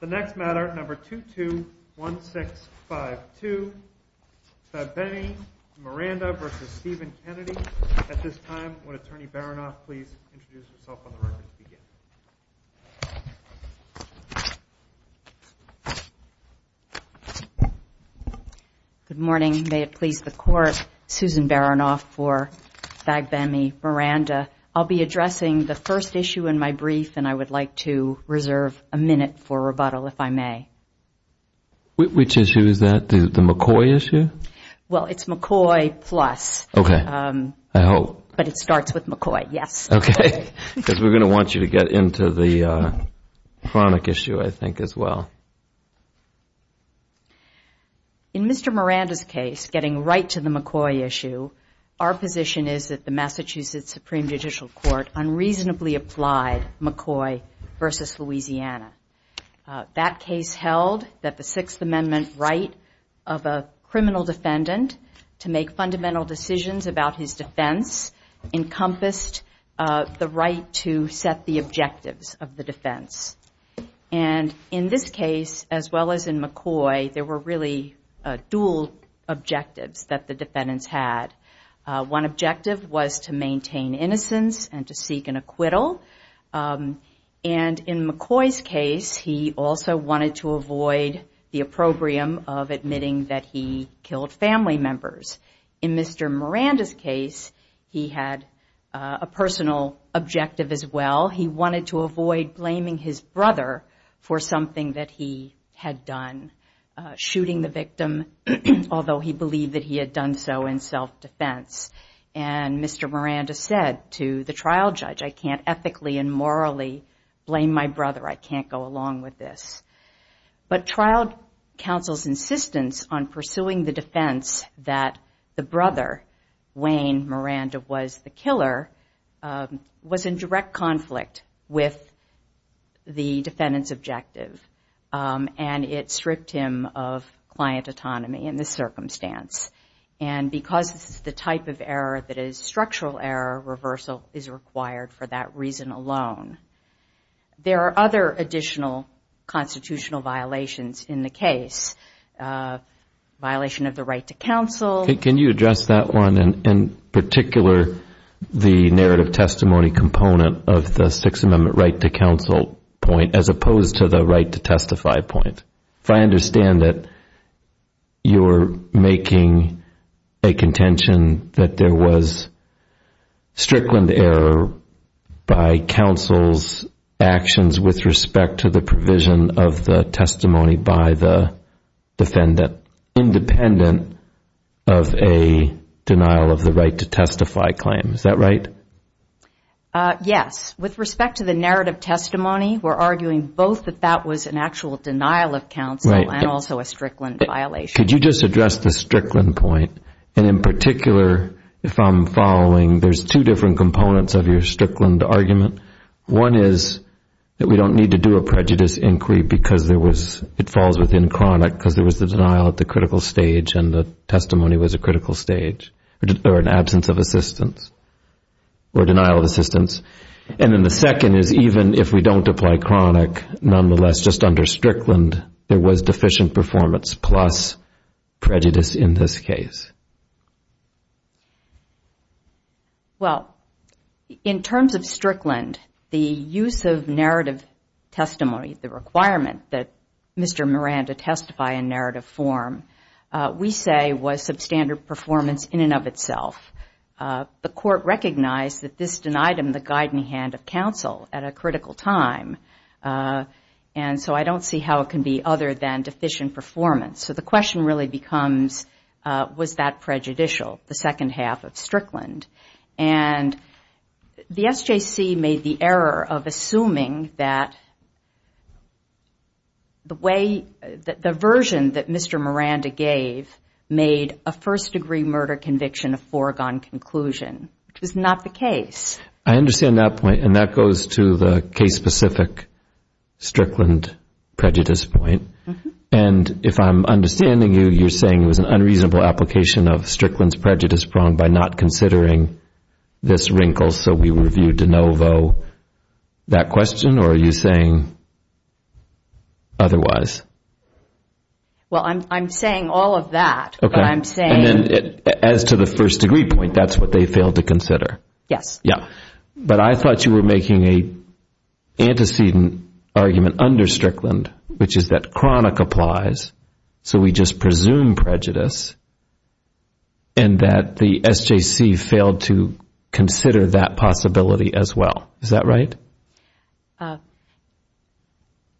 The next matter, number 221652, Fagbemi, Miranda v. Stephen Kennedy. At this time, would Attorney Baranoff please introduce herself on the record to begin? Good morning. May it please the Court, Susan Baranoff for Fagbemi, Miranda. I'll be addressing the first issue in my brief, and I would like to reserve a minute for rebuttal, if I may. Which issue is that, the McCoy issue? Well, it's McCoy plus. Okay, I hope. But it starts with McCoy, yes. Okay, because we're going to want you to get into the chronic issue, I think, as well. In Mr. Miranda's case, getting right to the McCoy issue, our position is that the Massachusetts Supreme Judicial Court unreasonably applied McCoy v. Louisiana. That case held that the Sixth Amendment right of a criminal defendant to make fundamental decisions about his defense encompassed the right to set the objectives of the defense. And in this case, as well as in McCoy, there were really dual objectives that the defendants had. One objective was to maintain innocence and to seek an acquittal. And in McCoy's case, he also wanted to avoid the opprobrium of admitting that he killed family members. In Mr. Miranda's case, he had a personal objective, as well. He wanted to avoid blaming his brother for something that he had done, shooting the victim, although he believed that he had done so in self-defense. And Mr. Miranda said to the trial judge, I can't ethically and morally blame my brother. I can't go along with this. But trial counsel's insistence on pursuing the defense that the brother, Wayne Miranda, was the killer, was in direct conflict with the defendant's objective. And it stripped him of client autonomy in this circumstance. And because this is the type of error that is structural error, reversal is required for that reason alone. There are other additional constitutional violations in the case, violation of the right to counsel. Can you address that one, in particular, the narrative testimony component of the Sixth Amendment right to counsel point, as opposed to the right to testify point? If I understand it, you're making a contention that there was strickland error by counsel's actions with respect to the provision of the testimony by the defendant, independent of a denial of the right to testify claim. Is that right? Yes. With respect to the narrative testimony, we're arguing both that that was an actual denial of counsel and also a strickland violation. Could you just address the strickland point? And in particular, if I'm following, there's two different components of your strickland argument. One is that we don't need to do a prejudice inquiry because it falls within chronic because there was the denial at the critical stage and the testimony was a critical stage or an absence of assistance or denial of assistance. And then the second is even if we don't apply chronic, nonetheless, just under strickland, there was deficient performance plus prejudice in this case. Well, in terms of strickland, the use of narrative testimony, the requirement that Mr. Miranda testify in narrative form, we say was substandard performance in and of itself. The court recognized that this denied him the guiding hand of counsel at a critical time. And so I don't see how it can be other than deficient performance. So the question really becomes, was that prejudicial, the second half of strickland? And the SJC made the error of assuming that the way, the version that Mr. Miranda gave made a first-degree murder conviction a foregone conclusion, which was not the case. I understand that point, and that goes to the case-specific strickland prejudice point. And if I'm understanding you, you're saying it was an unreasonable application of strickland's prejudice prong by not considering this wrinkle, so we reviewed de novo that question, or are you saying otherwise? Well, I'm saying all of that, but I'm saying... As to the first-degree point, that's what they failed to consider. Yes. But I thought you were making an antecedent argument under strickland, which is that chronic applies, so we just presume prejudice, and that the SJC failed to consider that possibility as well. Is that right?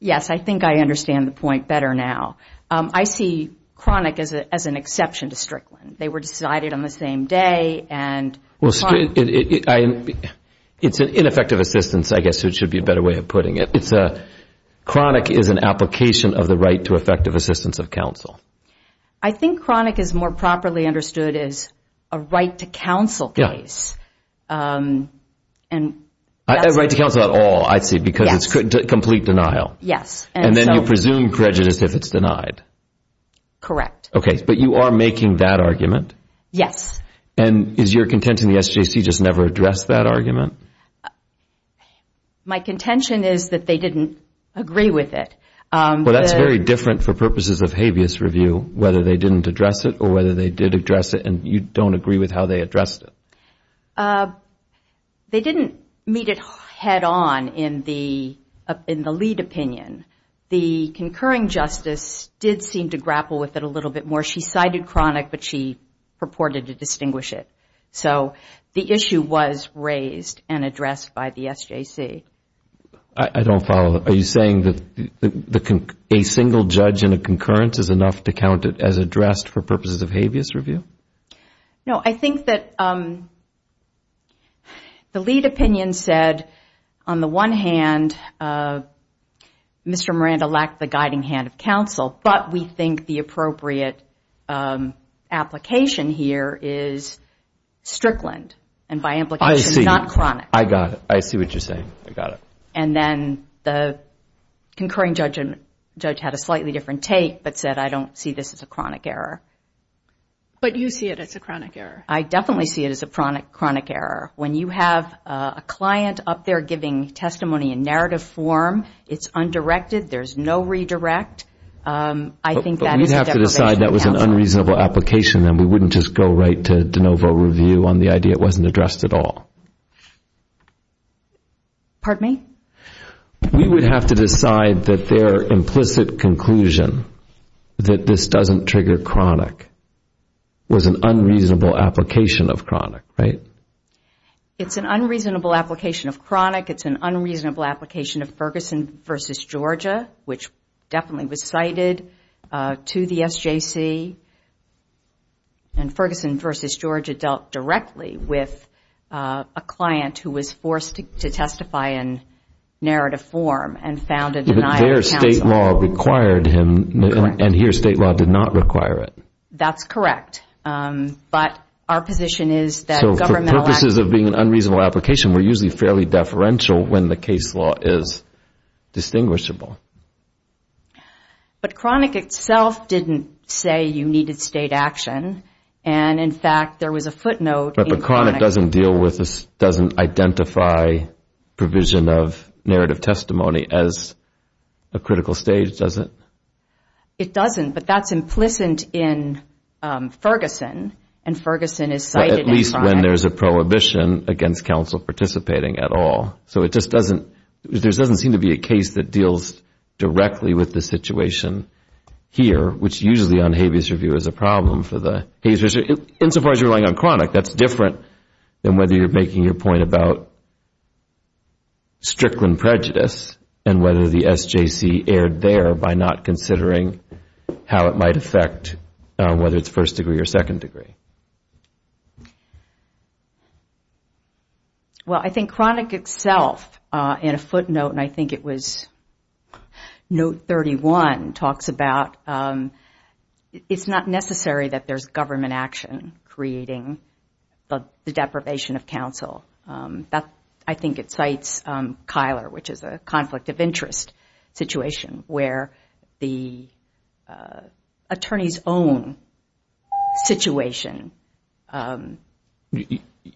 Yes, I think I understand the point better now. I see chronic as an exception to strickland. They were decided on the same day, and... It's an ineffective assistance, I guess, so it should be a better way of putting it. Chronic is an application of the right to effective assistance of counsel. I think chronic is more properly understood as a right to counsel case. A right to counsel at all, I see, because it's complete denial. Yes. And then you presume prejudice if it's denied. Correct. Okay, but you are making that argument? Yes. And is your contention the SJC just never addressed that argument? My contention is that they didn't agree with it. Well, that's very different for purposes of habeas review, whether they didn't address it or whether they did address it, and you don't agree with how they addressed it. They didn't meet it head-on in the lead opinion. The concurring justice did seem to grapple with it a little bit more. She cited chronic, but she purported to distinguish it. So the issue was raised and addressed by the SJC. I don't follow. Are you saying that a single judge in a concurrence is enough to count it as addressed for purposes of habeas review? No, I think that the lead opinion said, on the one hand, Mr. Miranda lacked the guiding hand of counsel, but we think the appropriate application here is strickland and by implication not chronic. I got it. I see what you're saying. I got it. And then the concurring judge had a slightly different take but said, I don't see this as a chronic error. But you see it as a chronic error. I definitely see it as a chronic error. When you have a client up there giving testimony in narrative form, it's undirected. There's no redirect. I think that is a deprivation of counsel. But we'd have to decide that was an unreasonable application, and we wouldn't just go right to de novo review on the idea it wasn't addressed at all. Pardon me? We would have to decide that their implicit conclusion that this doesn't trigger chronic was an unreasonable application of chronic, right? It's an unreasonable application of chronic. It's an unreasonable application of Ferguson v. Georgia, which definitely was cited to the SJC. And Ferguson v. Georgia dealt directly with a client who was forced to testify in narrative form and found a denial of counsel. But their state law required him, and here state law did not require it. That's correct. But our position is that government- So for purposes of being an unreasonable application, we're usually fairly deferential when the case law is distinguishable. But chronic itself didn't say you needed state action. And, in fact, there was a footnote in chronic- But chronic doesn't deal with this, doesn't identify provision of narrative testimony as a critical stage, does it? It doesn't, but that's implicit in Ferguson, and Ferguson is cited in chronic. Well, at least when there's a prohibition against counsel participating at all. So it just doesn't-there doesn't seem to be a case that deals directly with the situation here, which usually on habeas review is a problem for the-insofar as you're relying on chronic, that's different than whether you're making your point about Strickland prejudice and whether the SJC erred there by not considering how it might affect whether it's first degree or second degree. Well, I think chronic itself in a footnote, and I think it was note 31, talks about it's not necessary that there's government action creating the deprivation of counsel. I think it cites Kyler, which is a conflict of interest situation where the attorney's own situation-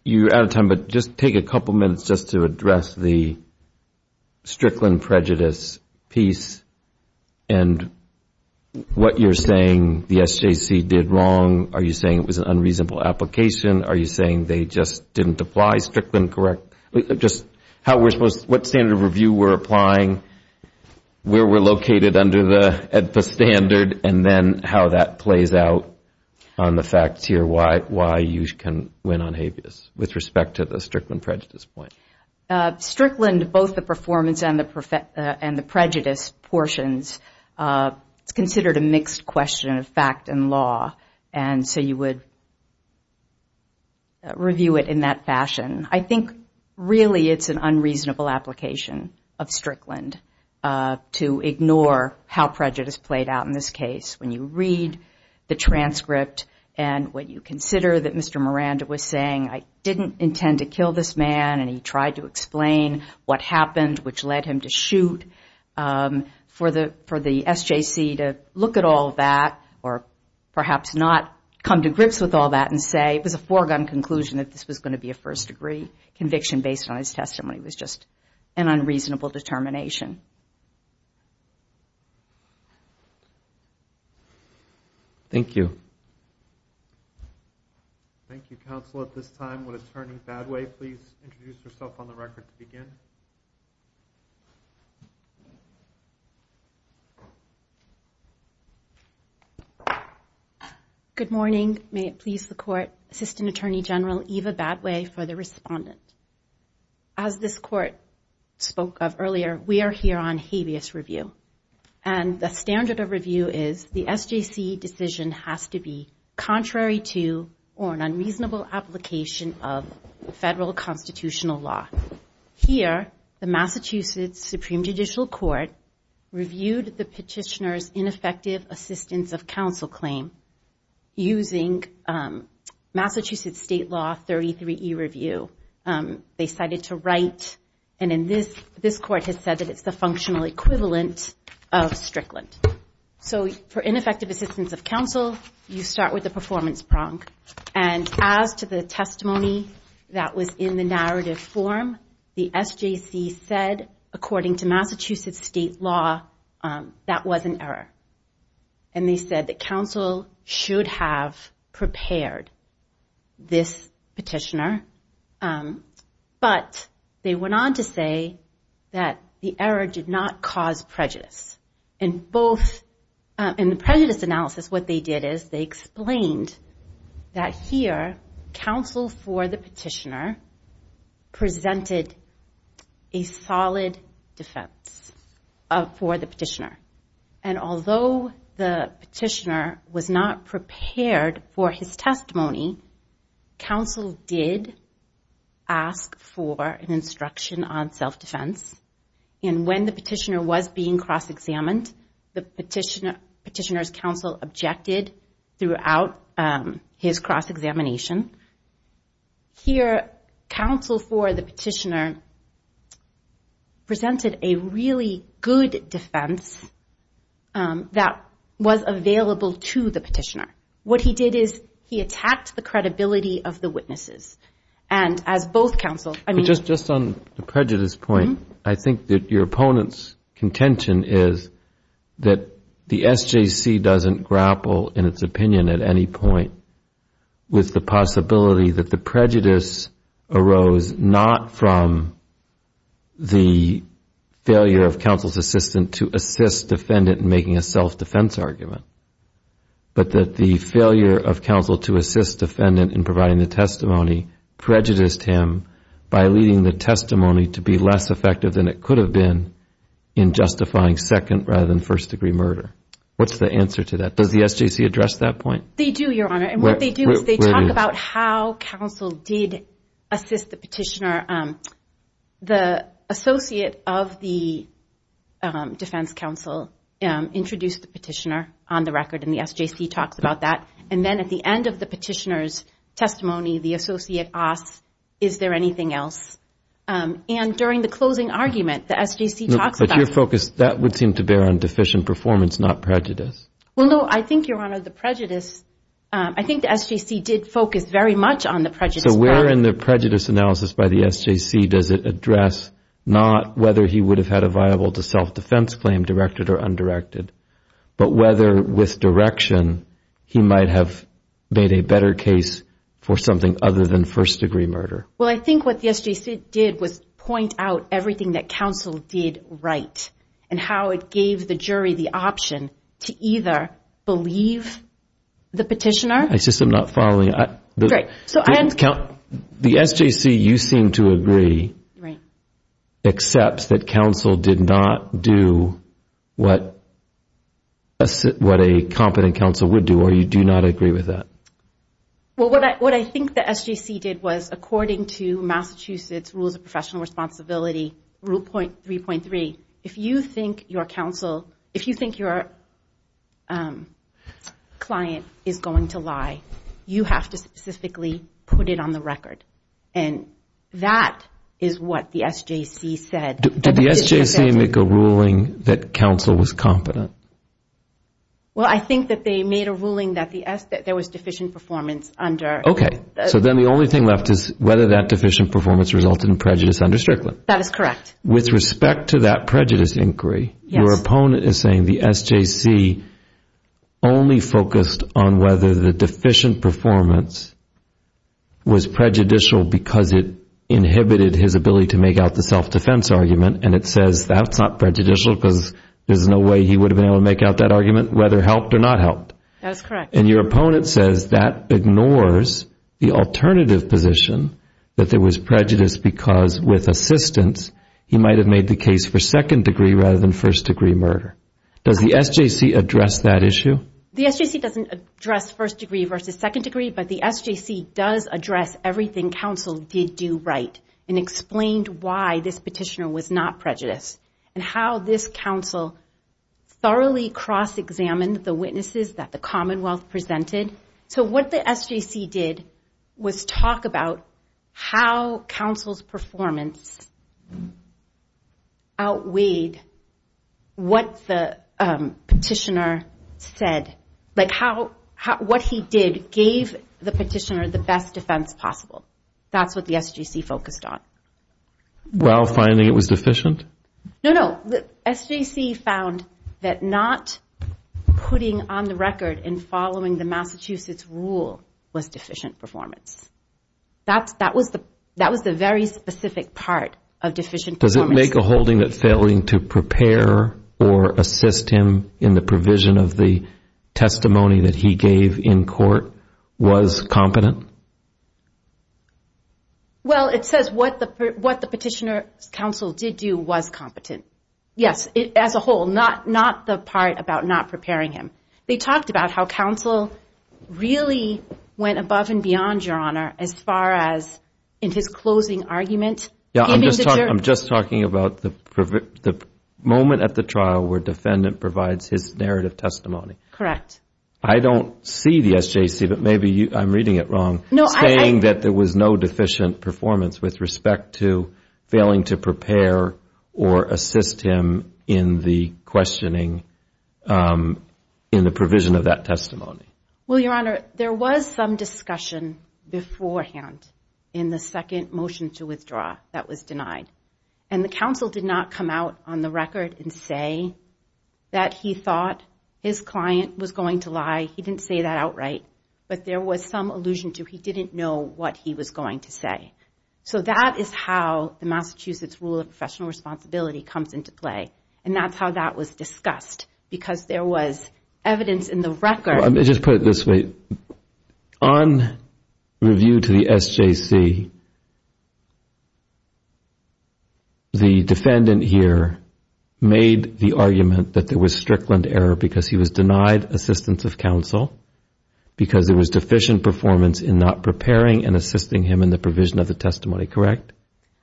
You're out of time, but just take a couple minutes just to address the Strickland prejudice piece and what you're saying the SJC did wrong. Are you saying it was an unreasonable application? Are you saying they just didn't apply Strickland correct? Just how we're supposed-what standard of review we're applying, where we're located under the standard, and then how that plays out on the facts here, why you can win on habeas, with respect to the Strickland prejudice point. Strickland, both the performance and the prejudice portions, is considered a mixed question of fact and law, and so you would review it in that fashion. I think really it's an unreasonable application of Strickland to ignore how prejudice played out in this case. When you read the transcript and when you consider that Mr. Miranda was saying, I didn't intend to kill this man, and he tried to explain what happened, which led him to shoot, for the SJC to look at all that, or perhaps not come to grips with all that and say, it was a foregone conclusion that this was going to be a first degree conviction based on his testimony. It was just an unreasonable determination. Thank you. Thank you, counsel. At this time, would Attorney Badway please introduce herself on the record to begin? Good morning. May it please the court, Assistant Attorney General Eva Badway for the respondent. As this court spoke of earlier, we are here on habeas review, and the standard of review is the SJC decision has to be contrary to or an unreasonable application of federal constitutional law. Here, the Massachusetts Supreme Judicial Court reviewed the petitioner's ineffective assistance of counsel claim using Massachusetts state law 33E review. They decided to write, and this court has said that it's the functional equivalent of Strickland. So for ineffective assistance of counsel, you start with the performance prong, and as to the testimony that was in the narrative form, the SJC said, according to Massachusetts state law, that was an error. And they said that counsel should have prepared this petitioner, but they went on to say that the error did not cause prejudice. In the prejudice analysis, what they did is they explained that here, counsel for the petitioner presented a solid defense for the petitioner, and although the petitioner was not prepared for his testimony, counsel did ask for an instruction on self-defense. And when the petitioner was being cross-examined, the petitioner's counsel objected throughout his cross-examination. Here, counsel for the petitioner presented a really good defense that was available to the petitioner. What he did is he attacked the credibility of the witnesses. And as both counsels, I mean... But just on the prejudice point, I think that your opponent's contention is that the SJC doesn't grapple, in its opinion, at any point with the possibility that the prejudice arose not from the failure of counsel's assistant to assist defendant in making a self-defense argument, but that the failure of counsel to assist defendant in providing the testimony prejudiced him by leading the testimony to be less effective than it could have been in justifying second-rather-than-first-degree murder. What's the answer to that? Does the SJC address that point? They do, Your Honor. And what they do is they talk about how counsel did assist the petitioner. The associate of the defense counsel introduced the petitioner on the record, and the SJC talks about that. And then at the end of the petitioner's testimony, the associate asks, is there anything else? And during the closing argument, the SJC talks about... Your focus, that would seem to bear on deficient performance, not prejudice. Well, no, I think, Your Honor, the prejudice, I think the SJC did focus very much on the prejudice. So where in the prejudice analysis by the SJC does it address not whether he would have had a viable-to-self-defense claim directed or undirected, but whether with direction he might have made a better case for something other than first-degree murder? Well, I think what the SJC did was point out everything that counsel did right and how it gave the jury the option to either believe the petitioner... I just am not following. The SJC, you seem to agree, accepts that counsel did not do what a competent counsel would do, or you do not agree with that? Well, what I think the SJC did was, according to Massachusetts Rules of Professional Responsibility, Rule 3.3, if you think your counsel, if you think your client is going to lie, you have to specifically put it on the record. And that is what the SJC said. Did the SJC make a ruling that counsel was competent? Well, I think that they made a ruling that there was deficient performance under... Okay. So then the only thing left is whether that deficient performance resulted in prejudice under Strickland. That is correct. With respect to that prejudice inquiry, your opponent is saying the SJC only focused on whether the deficient performance was prejudicial because it inhibited his ability to make out the self-defense argument, and it says that is not prejudicial because there is no way he would have been able to make out that argument, whether it helped or not helped. That is correct. And your opponent says that ignores the alternative position, that there was prejudice because with assistance, he might have made the case for second degree rather than first degree murder. Does the SJC address that issue? The SJC does not address first degree versus second degree, but the SJC does address everything counsel did do right and explained why this petitioner was not prejudiced and how this counsel thoroughly cross-examined the witnesses that the Commonwealth presented. So what the SJC did was talk about how counsel's performance outweighed what the petitioner said, like what he did gave the petitioner the best defense possible. That is what the SJC focused on. While finding it was deficient? No, no. The SJC found that not putting on the record and following the Massachusetts rule was deficient performance. That was the very specific part of deficient performance. Does it make a holding that failing to prepare or assist him in the provision of the testimony that he gave in court was competent? Well, it says what the petitioner's counsel did do was competent. Yes, as a whole, not the part about not preparing him. They talked about how counsel really went above and beyond, Your Honor, as far as in his closing argument. I'm just talking about the moment at the trial where defendant provides his narrative testimony. Correct. I don't see the SJC, but maybe I'm reading it wrong, saying that there was no deficient performance with respect to failing to prepare or assist him in the questioning in the provision of that testimony. Well, Your Honor, there was some discussion beforehand in the second motion to withdraw that was denied, and the counsel did not come out on the record and say that he thought his client was going to lie. He didn't say that outright, but there was some allusion to he didn't know what he was going to say. So that is how the Massachusetts rule of professional responsibility comes into play, and that's how that was discussed because there was evidence in the record. Let me just put it this way. On review to the SJC, the defendant here made the argument that there was Strickland error because he was denied assistance of counsel because there was deficient performance in not preparing and assisting him in the provision of the testimony, correct?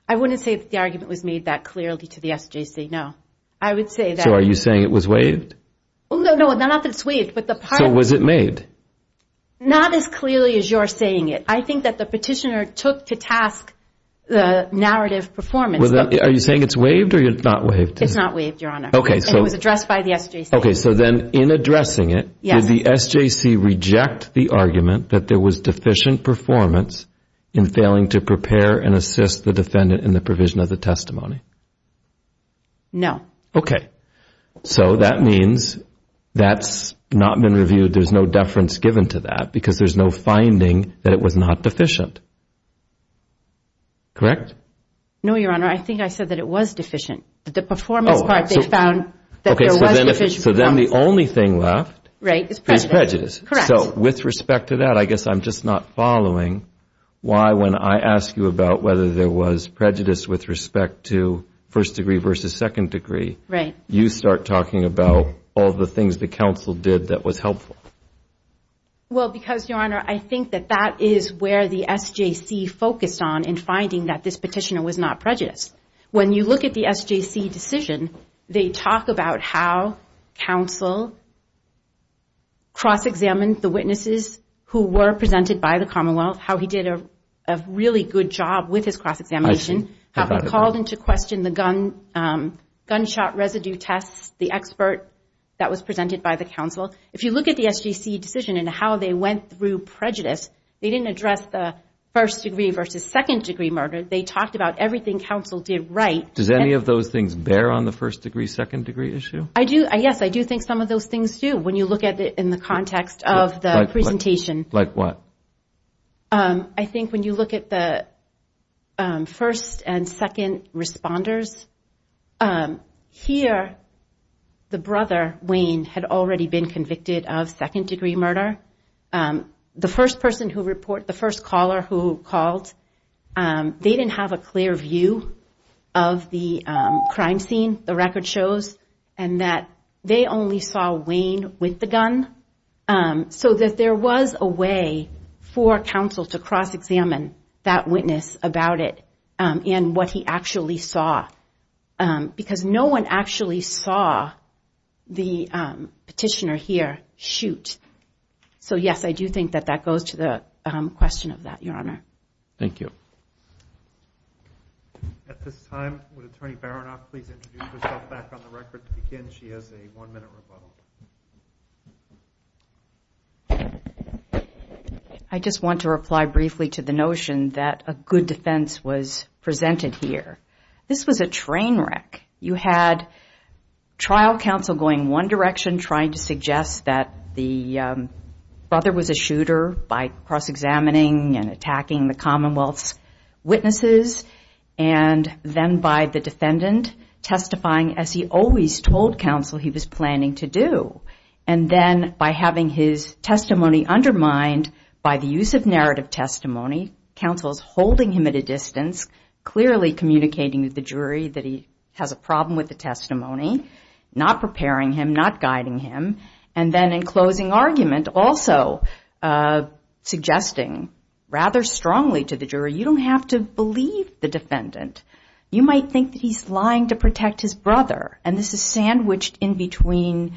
I wouldn't say that the argument was made that clearly to the SJC, no. So are you saying it was waived? No, not that it's waived. So was it made? Not as clearly as you're saying it. I think that the petitioner took to task the narrative performance. Are you saying it's waived or not waived? It's not waived, Your Honor, and it was addressed by the SJC. Okay, so then in addressing it, did the SJC reject the argument that there was deficient performance in failing to prepare and assist the defendant in the provision of the testimony? No. Okay. So that means that's not been reviewed, there's no deference given to that because there's no finding that it was not deficient, correct? No, Your Honor, I think I said that it was deficient. The performance part they found that there was deficient performance. Okay, so then the only thing left is prejudice. Correct. So with respect to that, I guess I'm just not following why when I ask you about whether there was prejudice with respect to first degree versus second degree, you start talking about all the things the counsel did that was helpful. Well, because, Your Honor, I think that that is where the SJC focused on in finding that this petitioner was not prejudiced. When you look at the SJC decision, they talk about how counsel cross-examined the witnesses who were presented by the Commonwealth, how he did a really good job with his cross-examination, how he called into question the gunshot residue tests, the expert that was presented by the counsel. If you look at the SJC decision and how they went through prejudice, they didn't address the first degree versus second degree murder. They talked about everything counsel did right. Does any of those things bear on the first degree, second degree issue? Yes, I do think some of those things do when you look at it in the context of the presentation. Like what? I think when you look at the first and second responders, here the brother, Wayne, had already been convicted of second degree murder. The first person who reported, the first caller who called, they didn't have a clear view of the crime scene, the record shows, and that they only saw Wayne with the gun, so that there was a way for counsel to cross-examine that witness about it and what he actually saw because no one actually saw the petitioner here shoot. So, yes, I do think that that goes to the question of that, Your Honor. Thank you. At this time, would Attorney Baranoff please introduce herself back on the record to begin? She has a one-minute rebuttal. I just want to reply briefly to the notion that a good defense was presented here. This was a train wreck. You had trial counsel going one direction, trying to suggest that the brother was a shooter by cross-examining and attacking the Commonwealth's witnesses, and then by the defendant testifying as he always told counsel he was planning to do. And then by having his testimony undermined by the use of narrative testimony, counsel is holding him at a distance, clearly communicating with the jury that he has a problem with the testimony, not preparing him, not guiding him, and then in closing argument also suggesting rather strongly to the jury, you don't have to believe the defendant. You might think that he's lying to protect his brother, and this is sandwiched in between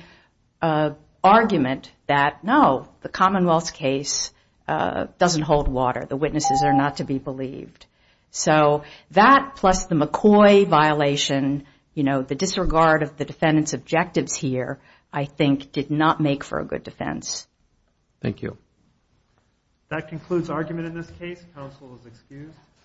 argument that, no, the Commonwealth's case doesn't hold water. The witnesses are not to be believed. So that plus the McCoy violation, you know, the disregard of the defendant's objectives here I think did not make for a good defense. Thank you. That concludes argument in this case. Counsel is excused.